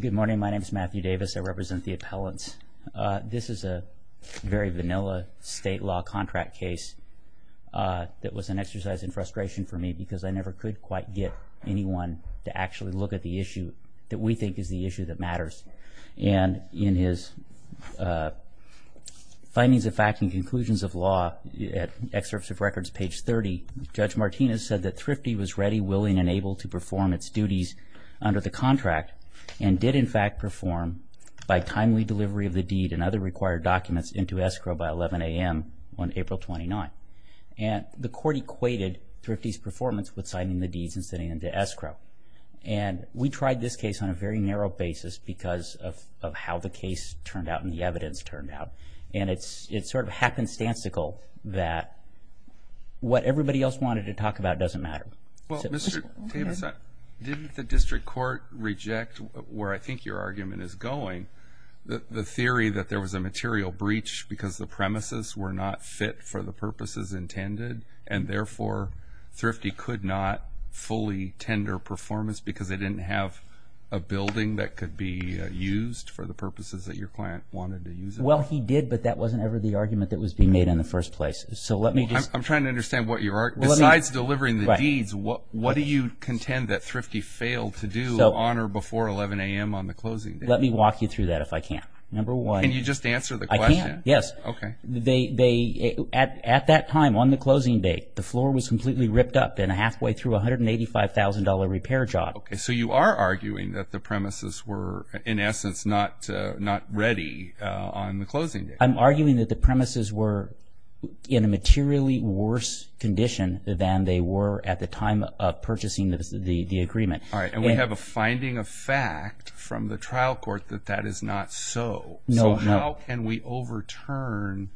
Good morning. My name is Matthew Davis. I represent the appellants. This is a very vanilla state law contract case that was an exercise in frustration for me because I never could quite get anyone to actually look at the issue that we think is the issue that matters. And in his findings of fact and conclusions of law at excerpts of records page 30, Judge Martinez said that Thrifty was ready, willing, and able to perform its duties under the contract and did in fact perform by timely delivery of the deed and other required documents into escrow by 11 a.m. on April 29. And the court equated Thrifty's performance with signing the deeds and sitting into escrow. And we tried this case on a very narrow basis because of how the case turned out and the evidence turned out. And it's sort of happenstancical that what everybody else wanted to talk about doesn't matter. Well, Mr. Davis, didn't the district court reject where I think your argument is going, the theory that there was a material breach because the premises were not fit for the purposes intended and therefore Thrifty could not fully tender performance because they didn't have a building that could be used for the purposes that your client wanted to use it for? Well, he did, but that wasn't ever the argument that was being made in the first place. So let me just... I'm trying to understand what your... Besides delivering the deeds, what do you contend that Thrifty failed to do on or before 11 a.m. on the closing date? Let me walk you through that if I can. Number one... Can you just answer the question? I can, yes. Okay. They... At that time on the closing date, the floor was completely ripped up and halfway through a $185,000 repair job. Okay. So you are arguing that the premises were in essence not ready on the closing date. I'm arguing that the premises were in a materially worse condition than they were at the time of purchasing the agreement. All right. And we have a finding of fact from the trial court that that is not so. No. So how can we overturn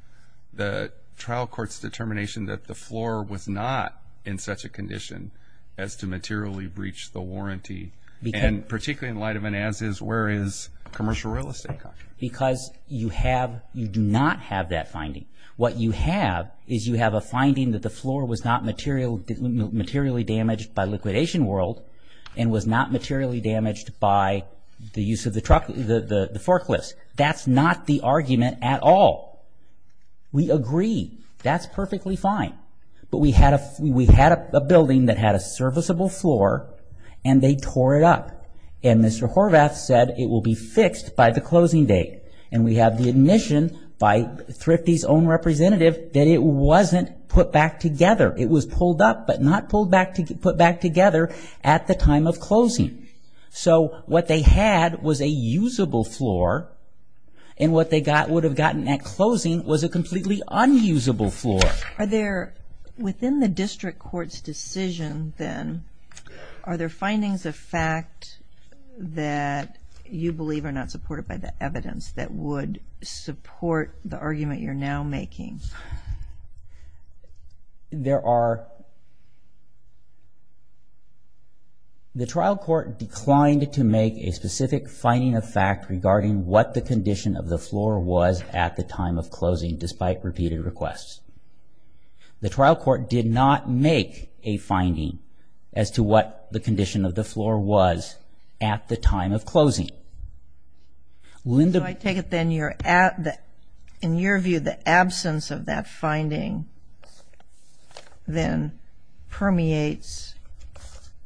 the trial court's determination that the floor was not in such a condition as to materially breach the warranty? And particularly in light of an as-is, where is commercial real estate? Because you have... You do not have that finding. What you have is you have a finding that the floor was not materially damaged by liquidation world and was not materially damaged by the use of the truck... The forklifts. That's not the argument at all. We agree. That's the argument at all. They had a serviceable floor and they tore it up. And Mr. Horvath said it will be fixed by the closing date. And we have the admission by Thrifty's own representative that it wasn't put back together. It was pulled up but not pulled back... Put back together at the time of closing. So what they had was a usable floor and what they got... Would have gotten at closing was a completely unusable floor. Are there... Within the district court's decision then, are there findings of fact that you believe are not supported by the evidence that would support the argument you're now making? There are... The trial court declined to make a specific finding of fact regarding what the condition of the floor was at the time of closing despite repeated requests. The trial court did not make a finding as to what the condition of the floor was at the time of closing. Linda... So I take it then you're at the... In your view, the absence of that finding then permeates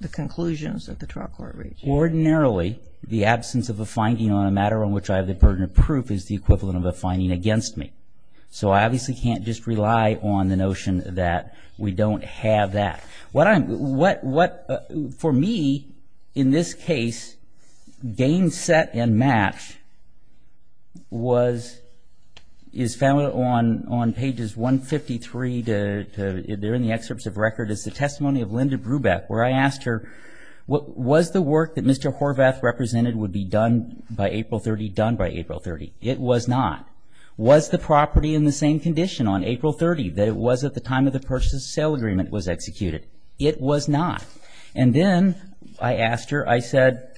the conclusions that the trial court reached. Ordinarily, the absence of a finding on a matter on which I have the burden of proof is the equivalent of a finding against me. So I obviously can't just rely on the notion that we don't have that. What I'm... What... For me, in this case, game set and match was... Is found on pages 153 to... They're in the excerpts of record. It's the testimony of Mr. Horvath represented would be done by April 30, done by April 30. It was not. Was the property in the same condition on April 30 that it was at the time of the purchase and sale agreement was executed? It was not. And then I asked her, I said,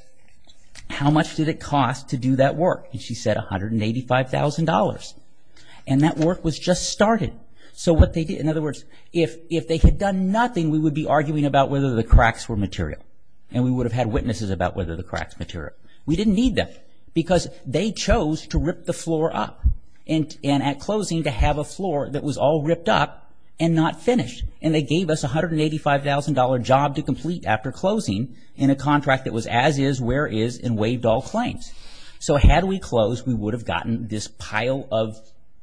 how much did it cost to do that work? And she said $185,000. And that work was just started. So what they did... In other words, if they had done nothing, we would be arguing about whether the cracks were material. And we would have had witnesses about whether the cracks material. We didn't need them because they chose to rip the floor up. And at closing to have a floor that was all ripped up and not finished. And they gave us $185,000 job to complete after closing in a contract that was as is, where is, and waived all claims. So had we closed, we would have gotten this pile of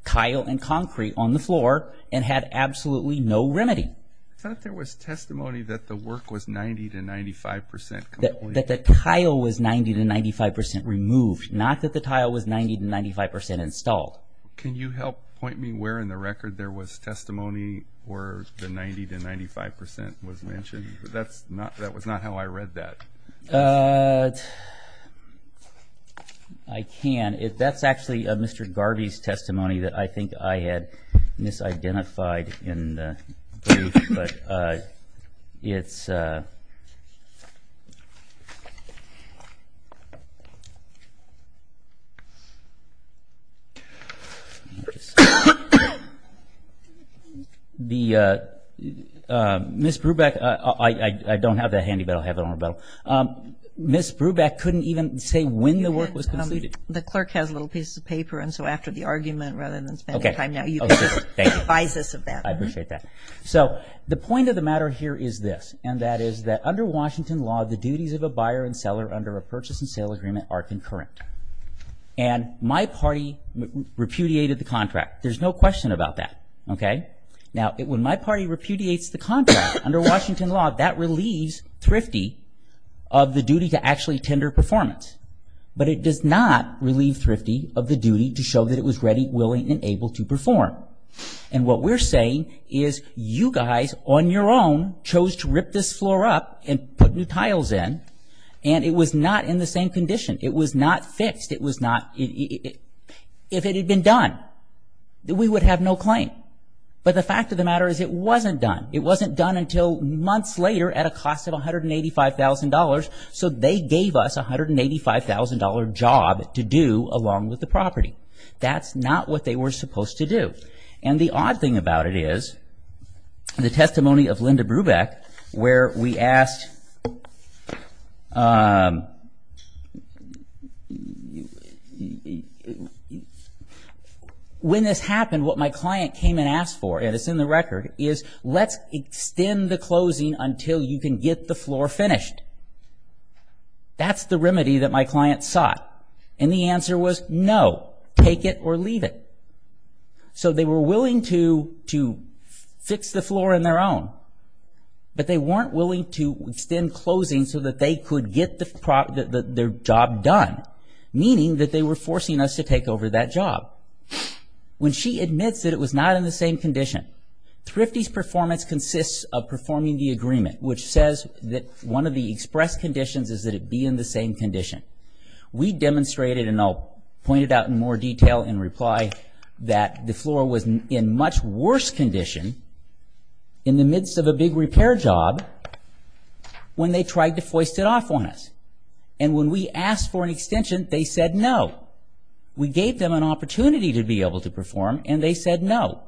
tile and concrete on the floor and had absolutely no remedy. I thought there was testimony that the work was 90 to 95% complete. That the tile was 90 to 95% removed, not that the tile was 90 to 95% installed. Can you help point me where in the record there was testimony where the 90 to 95% was mentioned? That was not how I read that. I can. That's actually Mr. Garvey's testimony that I think I had misidentified in the brief. I don't have that handy, but I'll have it on the rebuttal. Ms. Brubeck couldn't even say when the work was completed. The clerk has little pieces of paper and so after the argument rather than spending time now, you can advise us of that. I appreciate that. So the point of the matter here is this, and that is that under Washington law, the duties of a buyer and seller under a purchase and sale agreement are concurrent. And my party repudiated the contract. There's no question about that. Now when my party repudiates the contract under Washington law, that relieves Thrifty of the duty to actually tender performance. But it does not relieve Thrifty of the duty to show that it was ready, willing, and able to perform. And what we're saying is you guys on your own chose to rip this floor up and put new tiles in and it was not in the same condition. It was not fixed. If it had been done, we would have no claim. But the fact of the matter is it wasn't done. It wasn't done until months later at a cost of $185,000. So they gave us a $185,000 job to do along with the property. That's not what they were supposed to do. And the odd thing about it is the testimony of Linda Brubeck, where we asked, when this happened, what my client came and asked for, and it's in the record, is let's extend the closing until you can get the floor finished. That's the remedy that my client sought. And the answer was no, take it or leave it. So they were willing to fix the floor on their own, but they weren't willing to extend closing so that they could get their job done, meaning that they were forcing us to take over that job. When she admits that it was not in the same condition, Thrifty's performance consists of performing the agreement, which says that one of the express conditions is that it be in the same condition. We demonstrated, and I'll point it out in more detail in reply, that the floor was in much worse condition in the midst of a big repair job when they tried to foist it off on us. And when we asked for an extension, they said no. We gave them an opportunity to be able to perform, and they said no.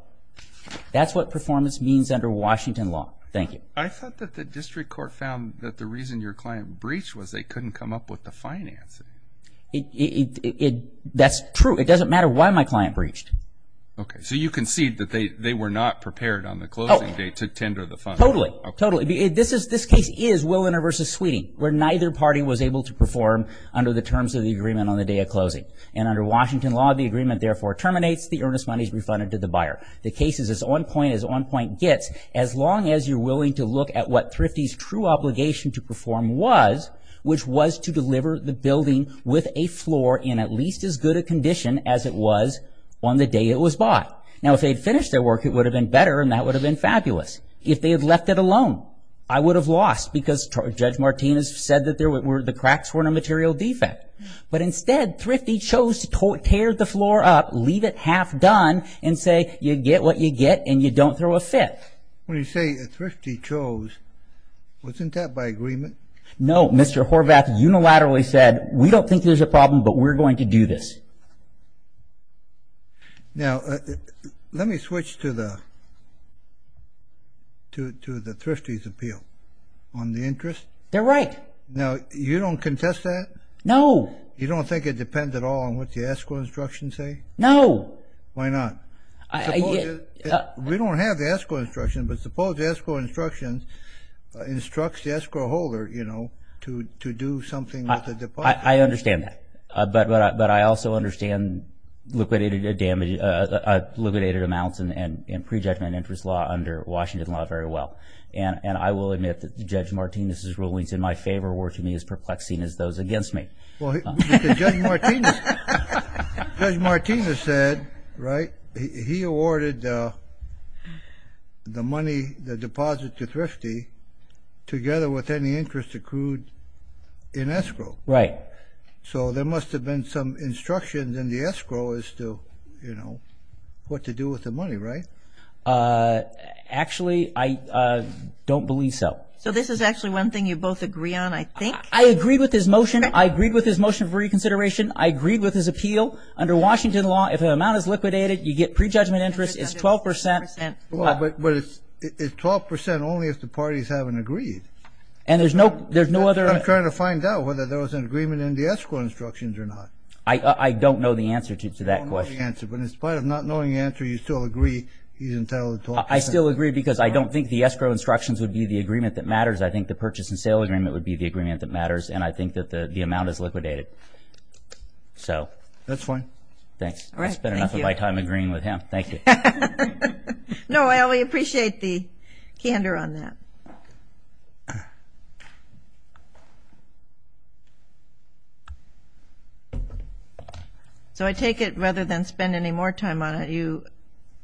That's what performance means under Washington law. Thank you. I thought that the district court found that the reason your client breached was they couldn't come up with the financing. That's true. It doesn't matter why my client breached. Okay, so you concede that they were not prepared on the closing date to tender the funding. Totally, totally. This case is Willener v. Sweeting, where neither party was able to perform under the terms of the agreement on the day of closing. And under Washington law, the agreement therefore terminates, the earnest money is refunded to the buyer. The case is as on point as on point gets, as long as you're willing to look at what Thrifty's true obligation to perform was, which was to deliver the building with a floor in at least as good a condition as it was on the day it was bought. Now, if they'd finished their work, it would have been better, and that would have been fabulous. If they had left it alone, I would have lost, because Judge Martinez said that the cracks were in a material defect. But instead, Thrifty chose to tear the floor up, leave it half done, and say, you get what you get, and you don't throw a fifth. When you say Thrifty chose, wasn't that by agreement? No, Mr. Horvath unilaterally said, we don't think there's a problem, but we're going to do this. Now let me switch to the Thrifty's appeal on the interest. They're right. Now, you don't contest that? No. You don't think it depends at all on what the escrow instructions say? No. Why not? We don't have the escrow instruction, but suppose the escrow instruction instructs the escrow holder, you know, to do something with the deposit. I understand that, but I also understand liquidated amounts in pre-judgment interest law under Washington law very well. And I will admit that Judge Martinez's rulings in my favor were to me as perplexing as those against me. Well, Judge Martinez said, right, he awarded the money, the deposit to Thrifty together with any interest accrued in escrow. Right. So there must have been some instructions in the escrow as to, you know, what to do with the money, right? Actually, I don't believe so. So this is actually one thing you both agree on, I think? I agree with his motion. I agree with his motion for reconsideration. I agree with his appeal. Under Washington law, if an amount is liquidated, you get pre-judgment interest. It's 12 percent. But it's 12 percent only if the parties haven't agreed. And there's no other... I'm trying to find out whether there was an agreement in the escrow instructions or not. I don't know the answer to that question. But in spite of not knowing the answer, you still agree he's entitled to 12 percent? I still agree because I don't think the escrow instructions would be the agreement that matters. I think the purchase and sale agreement would be the agreement that matters. And I think that the amount is liquidated. That's fine. Thanks. I've spent enough of my time agreeing with him. Thank you. No, I appreciate the candor on that. So I take it, rather than spend any more time on it, you...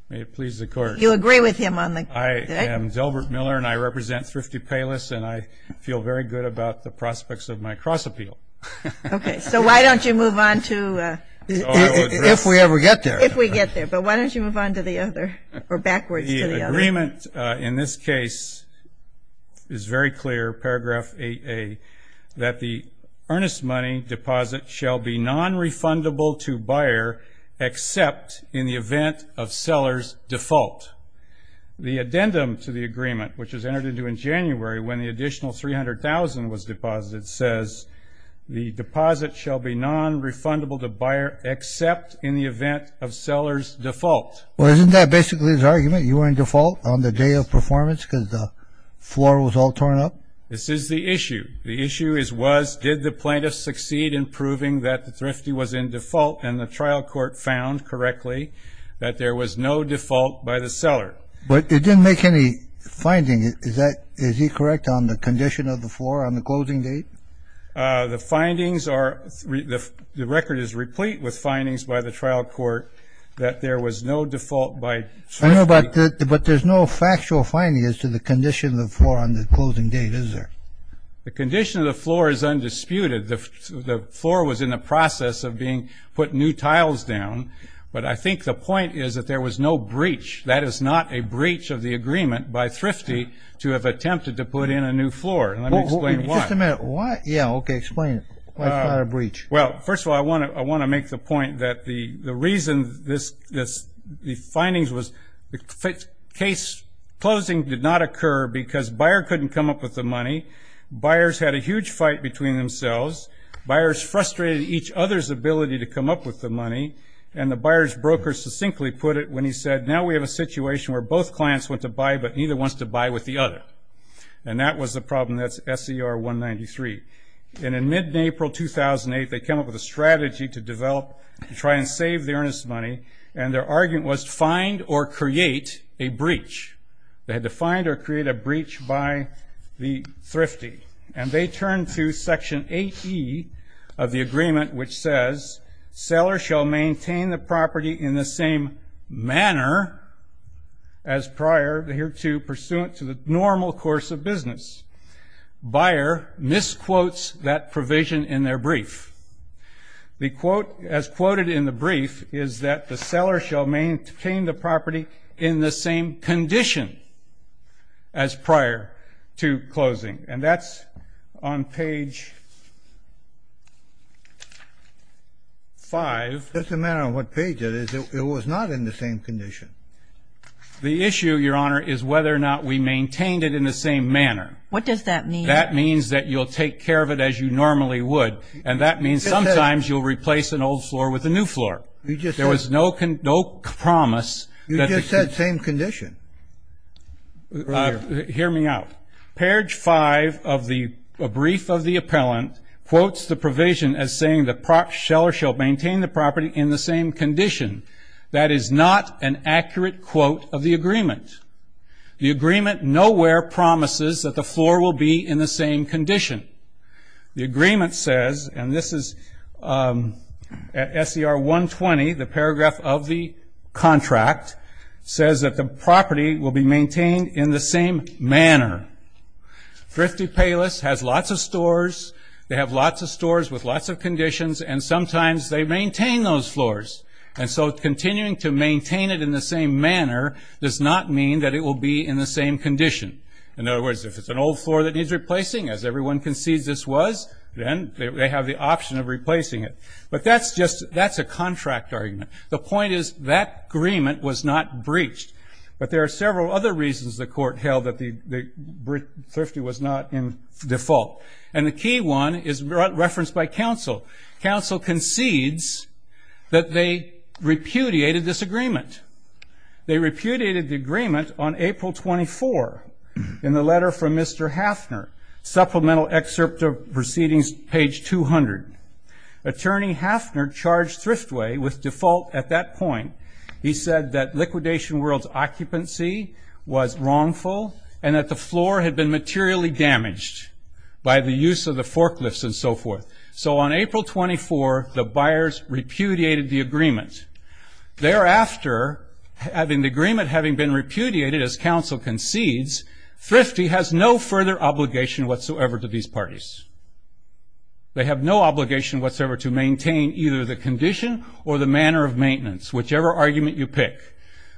May it please the Court. You agree with him on the... I am Delbert Miller, and I represent Thrifty Payless, and I feel very good about the prospects of my cross-appeal. Okay. So why don't you move on to... If we ever get there. If we get there. But why don't you move on to the other, or backwards to the other? The agreement in this case is very clear, paragraph 8A, that the earnest money deposit shall be non-refundable to buyer except in the event of seller's default. The addendum to the agreement, which was entered into in January when the additional $300,000 was deposited, says, the deposit shall be non-refundable to buyer except in the event of seller's default. Well, isn't that basically his argument? You were in default on the day of performance because the floor was all torn up? This is the issue. The issue is, was... Did the plaintiff succeed in proving that the Thrifty was in default, and the trial court found correctly that there was no default by the seller? But it didn't make any finding. Is that... Is he correct on the condition of the floor on the closing date? The findings are... The record is replete with findings by the trial court that there was no default by Thrifty. But there's no factual finding as to the condition of the floor on the closing date, is there? The condition of the floor is undisputed. The floor was in the process of being put new tiles down. But I think the point is that there was no breach. That is not a breach of the agreement by Thrifty to have attempted to put in a new floor. Let me explain why. Just a minute. Why? Yeah, okay, explain it. Why is it not a breach? Well, first of all, I want to make the point that the reason this... The findings was the case closing did not occur because buyer couldn't come up with the money. Buyers had a huge fight between themselves. Buyers frustrated each other's ability to come up with the money. And the buyer's broker succinctly put it when he said, now we have a situation where both clients want to buy, but neither wants to buy with the other. And that was the problem. And that's SCR 193. And in mid-April 2008, they came up with a strategy to develop, to try and save the earnest money. And their argument was to find or create a breach. They had to find or create a breach by the Thrifty. And they turned to section 8E of the agreement which says, seller shall maintain the property in the same manner as prior to here to pursuant to the normal course of business. Buyer misquotes that provision in their brief. The quote, as quoted in the brief, is that the seller shall maintain the property in the same condition as prior to closing. And that's on page 5. Just a matter of what page it is. It was not in the same condition. The issue, Your Honor, is whether or not we maintained it in the same manner. What does that mean? That means that you'll take care of it as you normally would. And that means sometimes you'll replace an old floor with a new floor. There was no promise that the You just said same condition. Hear me out. Page 5 of the brief of the appellant quotes the provision as saying the seller shall maintain the property in the same condition. That is not an accurate quote of the agreement. The agreement nowhere promises that the floor will be in the same condition. The agreement says, and this is SCR 120, the paragraph of the contract, says that the property will be maintained in the same manner. Thrifty Payless has lots of stores. They have lots of stores with lots of conditions. And sometimes they maintain those floors. And so continuing to maintain it in the same manner does not mean that it will be in the same condition. In other words, if it's an old floor that needs replacing, as everyone concedes this was, then they have the option of replacing it. But that's just a contract argument. The point is that agreement was not breached. But there are several other reasons the Court held that Thrifty was not in default. And the key one is referenced by counsel. Counsel concedes that they repudiated this agreement. They repudiated the agreement on April 24 in the letter from Mr. Hafner, supplemental excerpt of proceedings, page 200. Attorney Hafner charged Thriftway with default at that point. He said that liquidation world's occupancy was wrongful, and that the floor had been materially damaged by the use of the forklifts and so forth. So on April 24, the buyers repudiated the agreement. Thereafter, having the agreement having been repudiated, as counsel concedes, Thrifty has no further obligation whatsoever to these parties. They have no obligation whatsoever to maintain either the condition or the manner of maintenance, whichever argument you pick.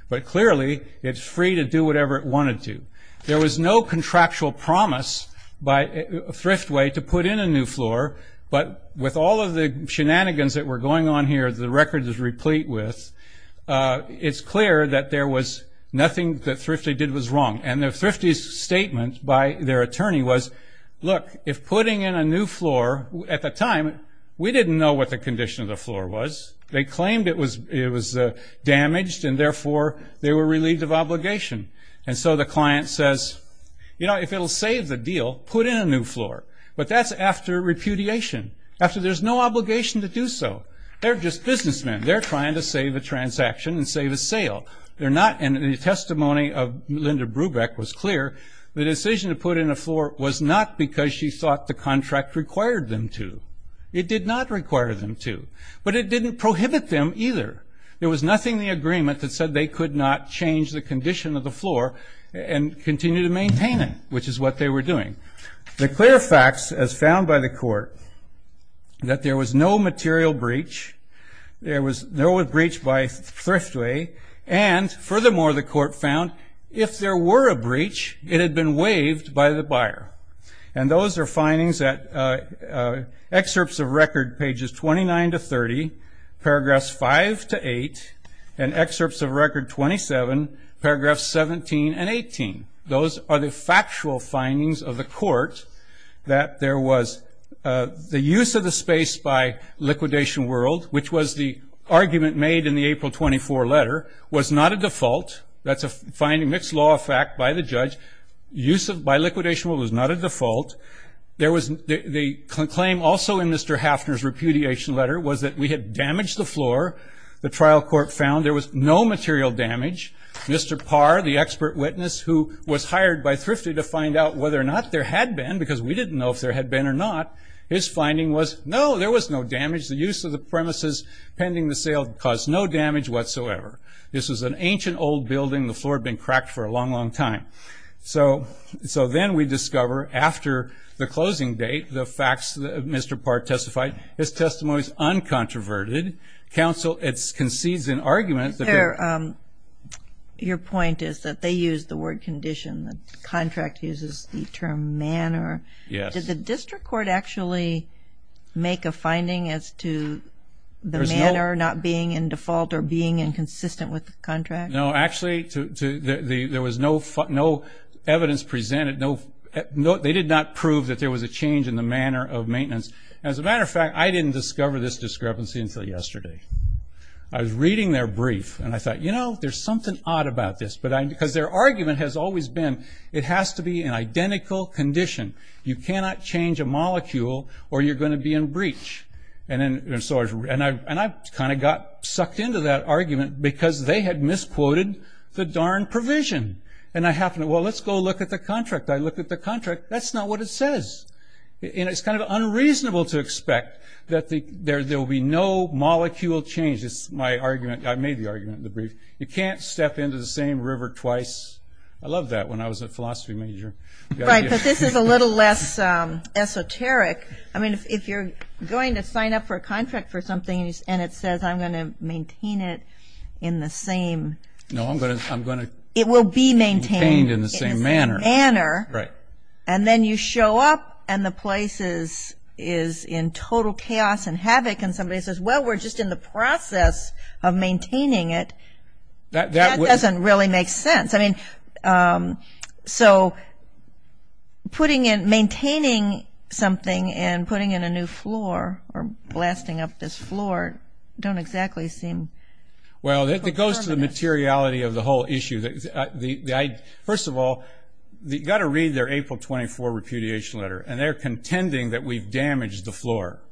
But clearly, it's free to do whatever it wanted to. There was no contractual promise by Thriftway to put in a new floor. But with all of the shenanigans that were going on here, the record is replete with, it's clear that there was nothing that Thrifty did was wrong. And Thrifty's statement by their attorney was, look, if putting in a new floor, at the time, we didn't know what the condition of they claimed it was damaged, and therefore, they were relieved of obligation. And so the client says, you know, if it'll save the deal, put in a new floor. But that's after repudiation. After there's no obligation to do so. They're just businessmen. They're trying to save a transaction and save a sale. They're not, and the testimony of Linda Brubeck was clear, the decision to put in a floor was not because she thought the contract required them to. It did not require them to. But it didn't prohibit them either. There was nothing in the agreement that said they could not change the condition of the floor and continue to maintain it, which is what they were doing. The clear facts, as found by the court, that there was no material breach, there was no breach by Thriftway, and furthermore, the court found, if there were a breach, it had been waived by the buyer. And those are findings that excerpts of record pages 29 to 30, paragraphs 5 to 8, and excerpts of record 27, paragraphs 17 and 18. Those are the factual findings of the court that there was the use of the space by Liquidation World, which was the argument made in the April 24 letter, was not a default. That's a finding, mixed law of fact by the judge. Use by Liquidation World was not a default. The claim also in Mr. Hafner's repudiation letter was that we had damaged the floor. The trial court found there was no material damage. Mr. Parr, the expert witness who was hired by Thriftway to find out whether or not there had been, because we didn't know if there had been or not, his finding was, no, there was no damage. The use of the premises pending the sale caused no damage whatsoever. This was an ancient old building. The floor had been cracked for a long, long time. So then we discover after the closing date, the facts that Mr. Parr testified, his testimony is uncontroverted. Counsel concedes an argument that... Your point is that they used the word condition. The contract uses the term manner. Yes. Did the district court actually make a finding as to the manner not being in default or being inconsistent with the contract? No. Actually, there was no evidence presented. They did not prove that there was a change in the manner of maintenance. As a matter of fact, I didn't discover this discrepancy until yesterday. I was reading their brief and I thought, you know, there's something odd about this. Because their argument has always been, it has to be an identical condition. You cannot change a molecule or you're going to be in breach. I kind of got sucked into that argument because they had misquoted the darn provision. And I happened, well, let's go look at the contract. I look at the contract. That's not what it says. It's kind of unreasonable to expect that there will be no molecule change. It's my argument. I made the argument in the brief. You can't step into the same river twice. I loved that when I was a philosophy major. Right, but this is a little less esoteric. I mean, if you're going to sign up for a contract for something and it says, I'm going to maintain it in the same manner, and then you show up and the place is in total chaos and havoc and somebody says, well, we're just in the process of maintaining it, that doesn't really make sense. So maintaining something and putting in a new floor or blasting up this floor don't exactly seem... Well, it goes to the materiality of the whole issue. First of all, you've got to read their April 24 repudiation letter and they're contending that we've damaged the floor.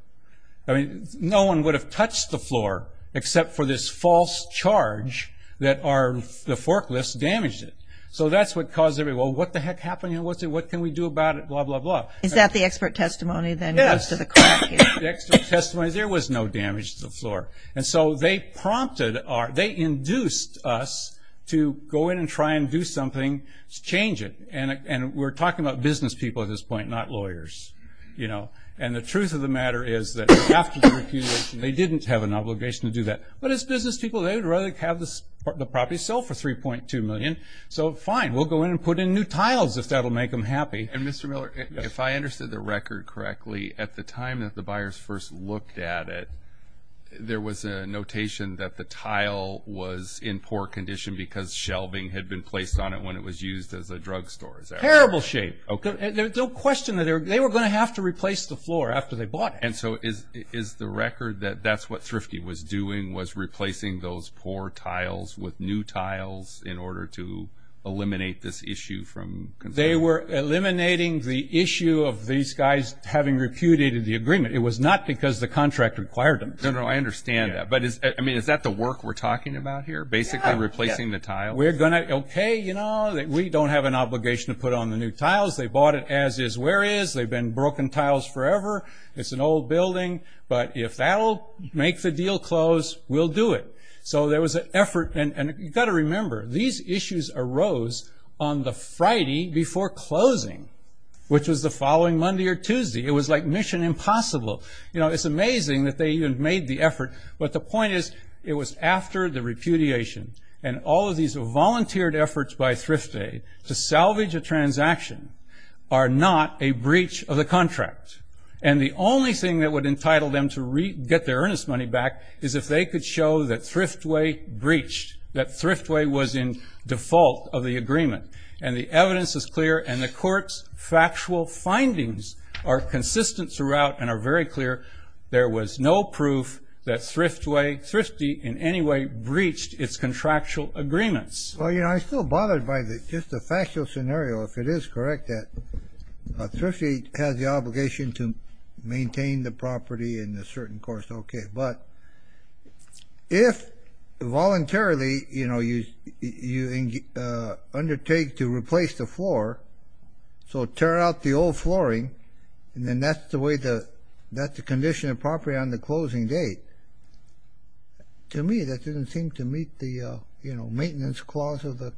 I mean, no one would have touched the floor except for this false charge that the forklifts damaged it. So that's what caused everyone, well, what the heck happened here? What can we do about it? Blah, blah, blah. Is that the expert testimony that goes to the crack here? Yes, the expert testimony. There was no damage to the floor. And so they prompted, they induced us to go in and try and do something to change it. And we're talking about business people at this point, not lawyers. And the truth of the matter is that after the repudiation, they didn't have an obligation to do that. But as business people, they would rather have the property sold for $3.2 million. So fine, we'll go in and put in new tiles if that'll make them happy. And Mr. Miller, if I understood the record correctly, at the time that the buyers first looked at it, there was a notation that the tile was in poor condition because shelving had been placed on it when it was used as a drug store. Is that right? Terrible shape. Don't question that. They were going to have to replace the floor after they bought it. And so is the record that that's what Thrifty was doing, was replacing those poor tiles with new tiles in order to eliminate this issue from concern? They were eliminating the issue of these guys having repudiated the agreement. It was not because the contract required them. No, no, I understand that. But is that the work we're talking about here, basically replacing the tiles? We're going to, okay, we don't have an obligation to put on the new tiles. They bought it as is where is. They've been broken tiles forever. It's an old building. But if that'll make the deal close, we'll do it. So there was an effort. And you've got to remember, these issues arose on the Friday before closing, which was the following Monday or Tuesday. It was like Mission Impossible. It's amazing that they even made the effort. But the point is, it was after the repudiation. And all of these volunteered efforts by Thrifty to salvage a transaction are not a breach of the contract. And the only thing that would entitle them to get their earnest money back is if they could show that Thriftway breached, that Thriftway was in default of the agreement. And the evidence is clear. And the court's factual findings are consistent throughout and are very clear. There was no proof that Thriftway, Thrifty in any way, breached its contractual agreements. Well, you know, I'm still bothered by just the factual scenario. If it is correct that Thrifty has the obligation to maintain the property in a certain course, okay. But if voluntarily, you know, you undertake to replace the floor, so tear out the old flooring, and then that's the condition of property on the closing date. To me, that doesn't seem to meet the, you know, maintenance clause of the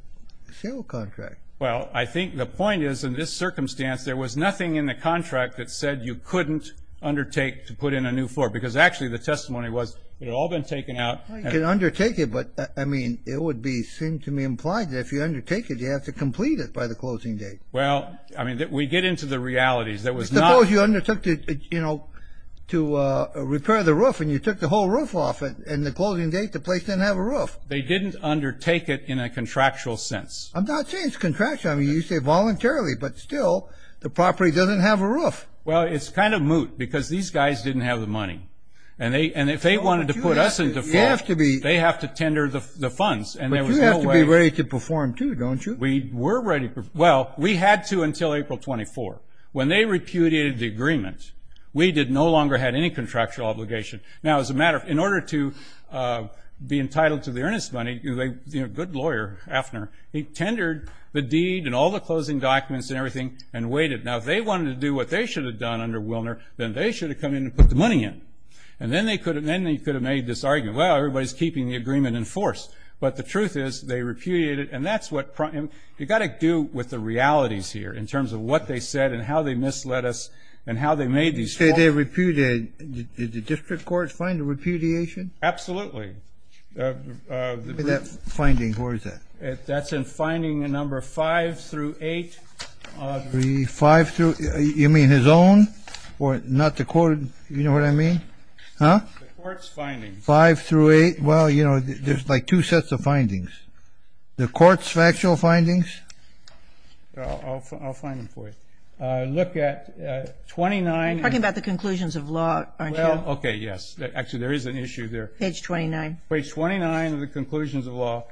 sale contract. Well, I think the point is, in this circumstance, there was nothing in the contract that said you couldn't undertake to put in a new floor. Because actually, the testimony was, it had all been taken out. Well, you can undertake it, but, I mean, it would be, seemed to me, implied that if you undertake it, you have to complete it by the closing date. Well, I mean, we get into the realities. That was not... Suppose you undertook to, you know, to repair the roof, and you took the whole roof off, and the closing date, the place didn't have a roof. They didn't undertake it in a contractual sense. I'm not saying it's contractual. I mean, you say voluntarily. But still, the property doesn't have a roof. Well, it's kind of moot. Because these guys didn't have the money. And if they wanted to put us into floor, they have to tender the funds. But you have to be ready to perform, too, don't you? We were ready. Well, we had to until April 24th. When they repudiated the agreement, we did no longer had any contractual obligation. Now, as a matter of, in order to be entitled to the earnest money, you know, a good lawyer, Afner, he tendered the deed and all the closing documents and everything, and waited. Now, if they wanted to do what they should have done under Willner, then they should have come in and put the money in. And then they could have made this argument, well, everybody's keeping the agreement in force. But the truth is, they repudiated it. And that's what, you've got to do with the realities here, in terms of what they said and how they misled us and how they made these calls. Did they repudiate, did the district courts find a repudiation? Absolutely. Where is that finding? Where is that? That's in finding number five through eight. Five through, you mean his own? Or not the court, you know what I mean? The court's finding. Five through eight. Well, you know, there's like two sets of findings. The court's factual findings? I'll find them for you. Look at 29. You're talking about the conclusions of law, aren't you? Well, okay, yes. Actually, there is an issue there. Page 29. Page 29 of the conclusions of law.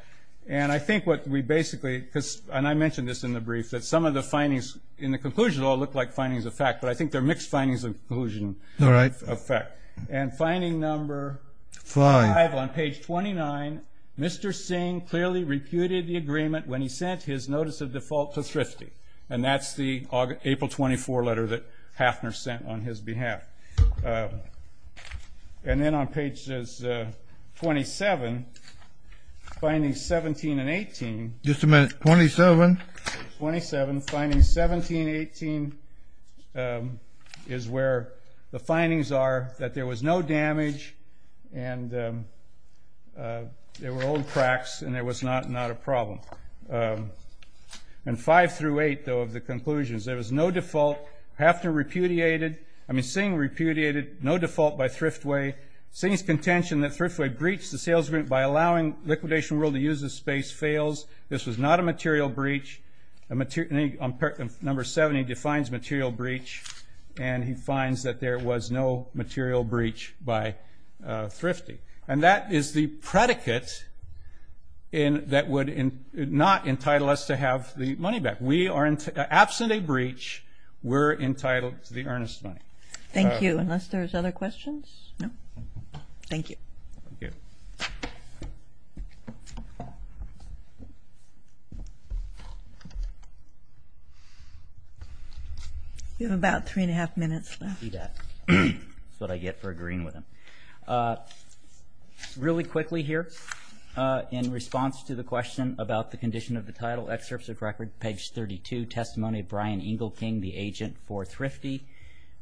And I think what we basically, because, and I mentioned this in the brief, that some of the findings in the conclusion all look like findings of fact, but I think they're mixed findings of conclusion of fact. And finding number five on page 29, Mr. Singh clearly repudiated the agreement when he sent his notice of default to Thrifty. And that's the April 24 letter that Hafner sent on his behalf. And then on page 27, findings 17 and 18. Just a minute. 27? 27. 17, 18 is where the findings are, that there was no damage and there were old cracks and there was not a problem. And five through eight, though, of the conclusions. There was no default. Hafner repudiated, I mean, Singh repudiated no default by Thriftway. Singh's contention that Thriftway breached the sales agreement by allowing Liquidation Rule to use the space fails. This was not a material breach. Number seven, he defines material breach. And he finds that there was no material breach by Thrifty. And that is the predicate that would not entitle us to have the money back. We are, absent a breach, we're entitled to the earnest money. Thank you. Unless there's other questions? No? Thank you. We have about three and a half minutes left. I see that. That's what I get for agreeing with him. Really quickly here, in response to the question about the condition of the title, excerpts of record, page 32, testimony of Brian Engelking, the agent for Thrifty.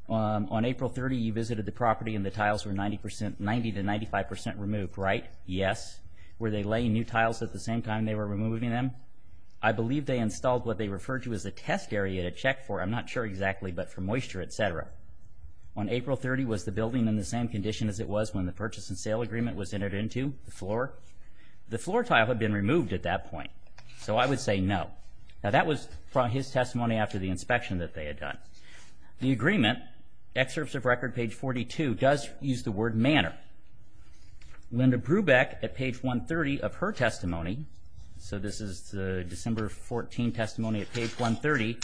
On April 30, you visited the property and the tiles were 90% to 95% removed, right? Yes. Were they laying new tiles at the same time they were removing them? I believe they installed what they referred to as a test area to check for, I'm not sure exactly, but for moisture, etc. On April 30, was the building in the same condition as it was when the purchase and sale agreement was entered into, the floor? The floor tile had been removed at that point. So I would say no. Now that was from his testimony after the inspection that they had done. The agreement, excerpts of record, page 42, does use the word manner. Linda Brubeck, at page 130 of her testimony, so this is the December 14 testimony at page 130,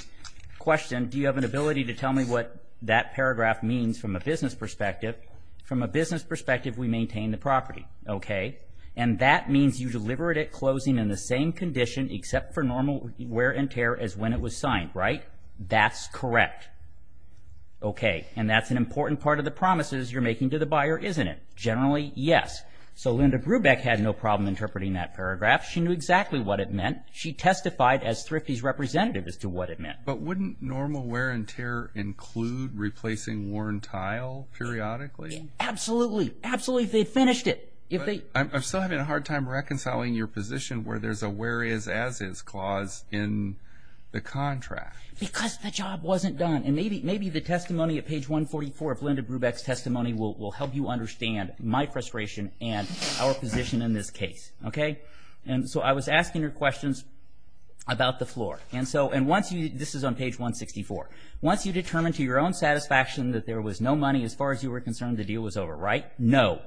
questioned, do you have an ability to tell me what that paragraph means from a business perspective? From a business perspective, we maintain the property, okay? And that means you deliver it at closing in the same condition except for normal wear and tear as when it was signed, right? That's correct. Okay. And that's an important part of the promises you're making to the buyer, isn't it? Generally, yes. So Linda Brubeck had no problem interpreting that paragraph. She knew exactly what it meant. She testified as Thrifty's representative as to what it meant. But wouldn't normal wear and tear include replacing worn tile periodically? Absolutely. Absolutely, if they finished it. I'm still having a hard time reconciling your position where there's a where is, as is clause in the contract. Because the job wasn't done. And maybe the testimony at page 144 of Linda Brubeck's testimony will help you understand my frustration and our position in this case, okay? And so I was asking her questions about the floor. And so, and once you, this is on page 164. Once you determined to your own satisfaction that there was no money, as far as you were concerned, the deal was over, right? No.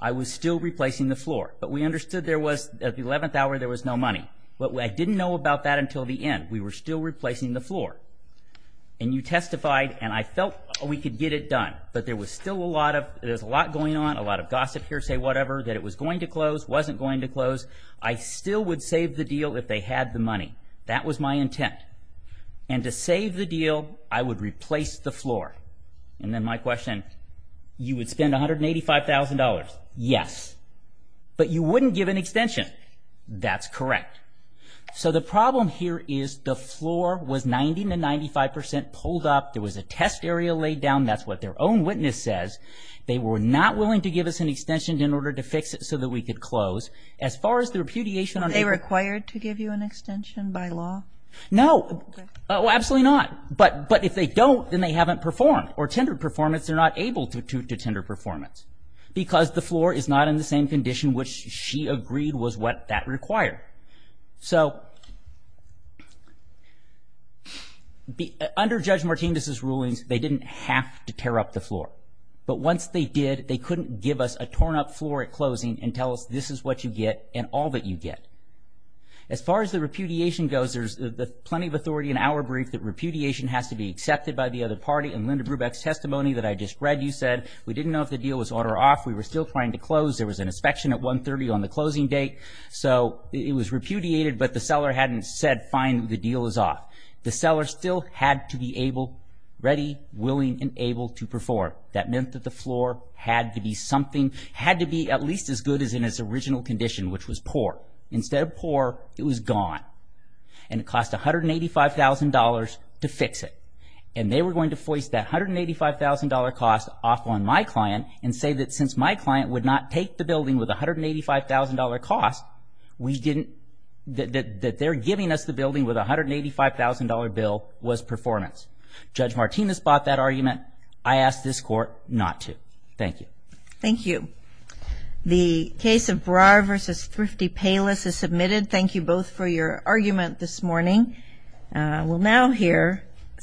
I was still replacing the floor. But we understood there was, at the 11th hour, there was no about that until the end. We were still replacing the floor. And you testified, and I felt we could get it done. But there was still a lot of, there's a lot going on, a lot of gossip here, say whatever, that it was going to close, wasn't going to close. I still would save the deal if they had the money. That was my intent. And to save the deal, I would replace the floor. And then my question, you would spend $185,000? Yes. But you wouldn't give an extension. That's correct. So the problem here is the floor was 90 to 95% pulled up. There was a test area laid down. That's what their own witness says. They were not willing to give us an extension in order to fix it so that we could close. As far as the repudiation on a- Are they required to give you an extension by law? No. Oh, absolutely not. But, but if they don't, then they haven't performed. Or tendered performance, they're not able to, to tender performance. Because the floor is not in the same condition which she agreed was what that required. So, under Judge Martinez's rulings, they didn't have to tear up the floor. But once they did, they couldn't give us a torn up floor at closing and tell us this is what you get and all that you get. As far as the repudiation goes, there's plenty of authority in our brief that repudiation has to be accepted by the other party. In Linda Brubeck's testimony that I just read, you said, we didn't know if the deal was on or off. We were still trying to close. There was an inspection at 1.30 on the closing date. So, it was repudiated, but the seller hadn't said, fine, the deal is off. The seller still had to be able, ready, willing, and able to perform. That meant that the floor had to be something, had to be at least as good as in its original condition, which was poor. Instead of poor, it was gone. And it cost $185,000 to fix it. And they were going to foist that $185,000 cost off on my client and say that since my client would not take the building with a $185,000 cost, that they're giving us the building with a $185,000 bill was performance. Judge Martinez bought that argument. I ask this Court not to. Thank you. Thank you. The case of Breyer v. Thrifty Payless is submitted. Thank you both for your argument this morning. We'll now hear Satter v. Thrifty.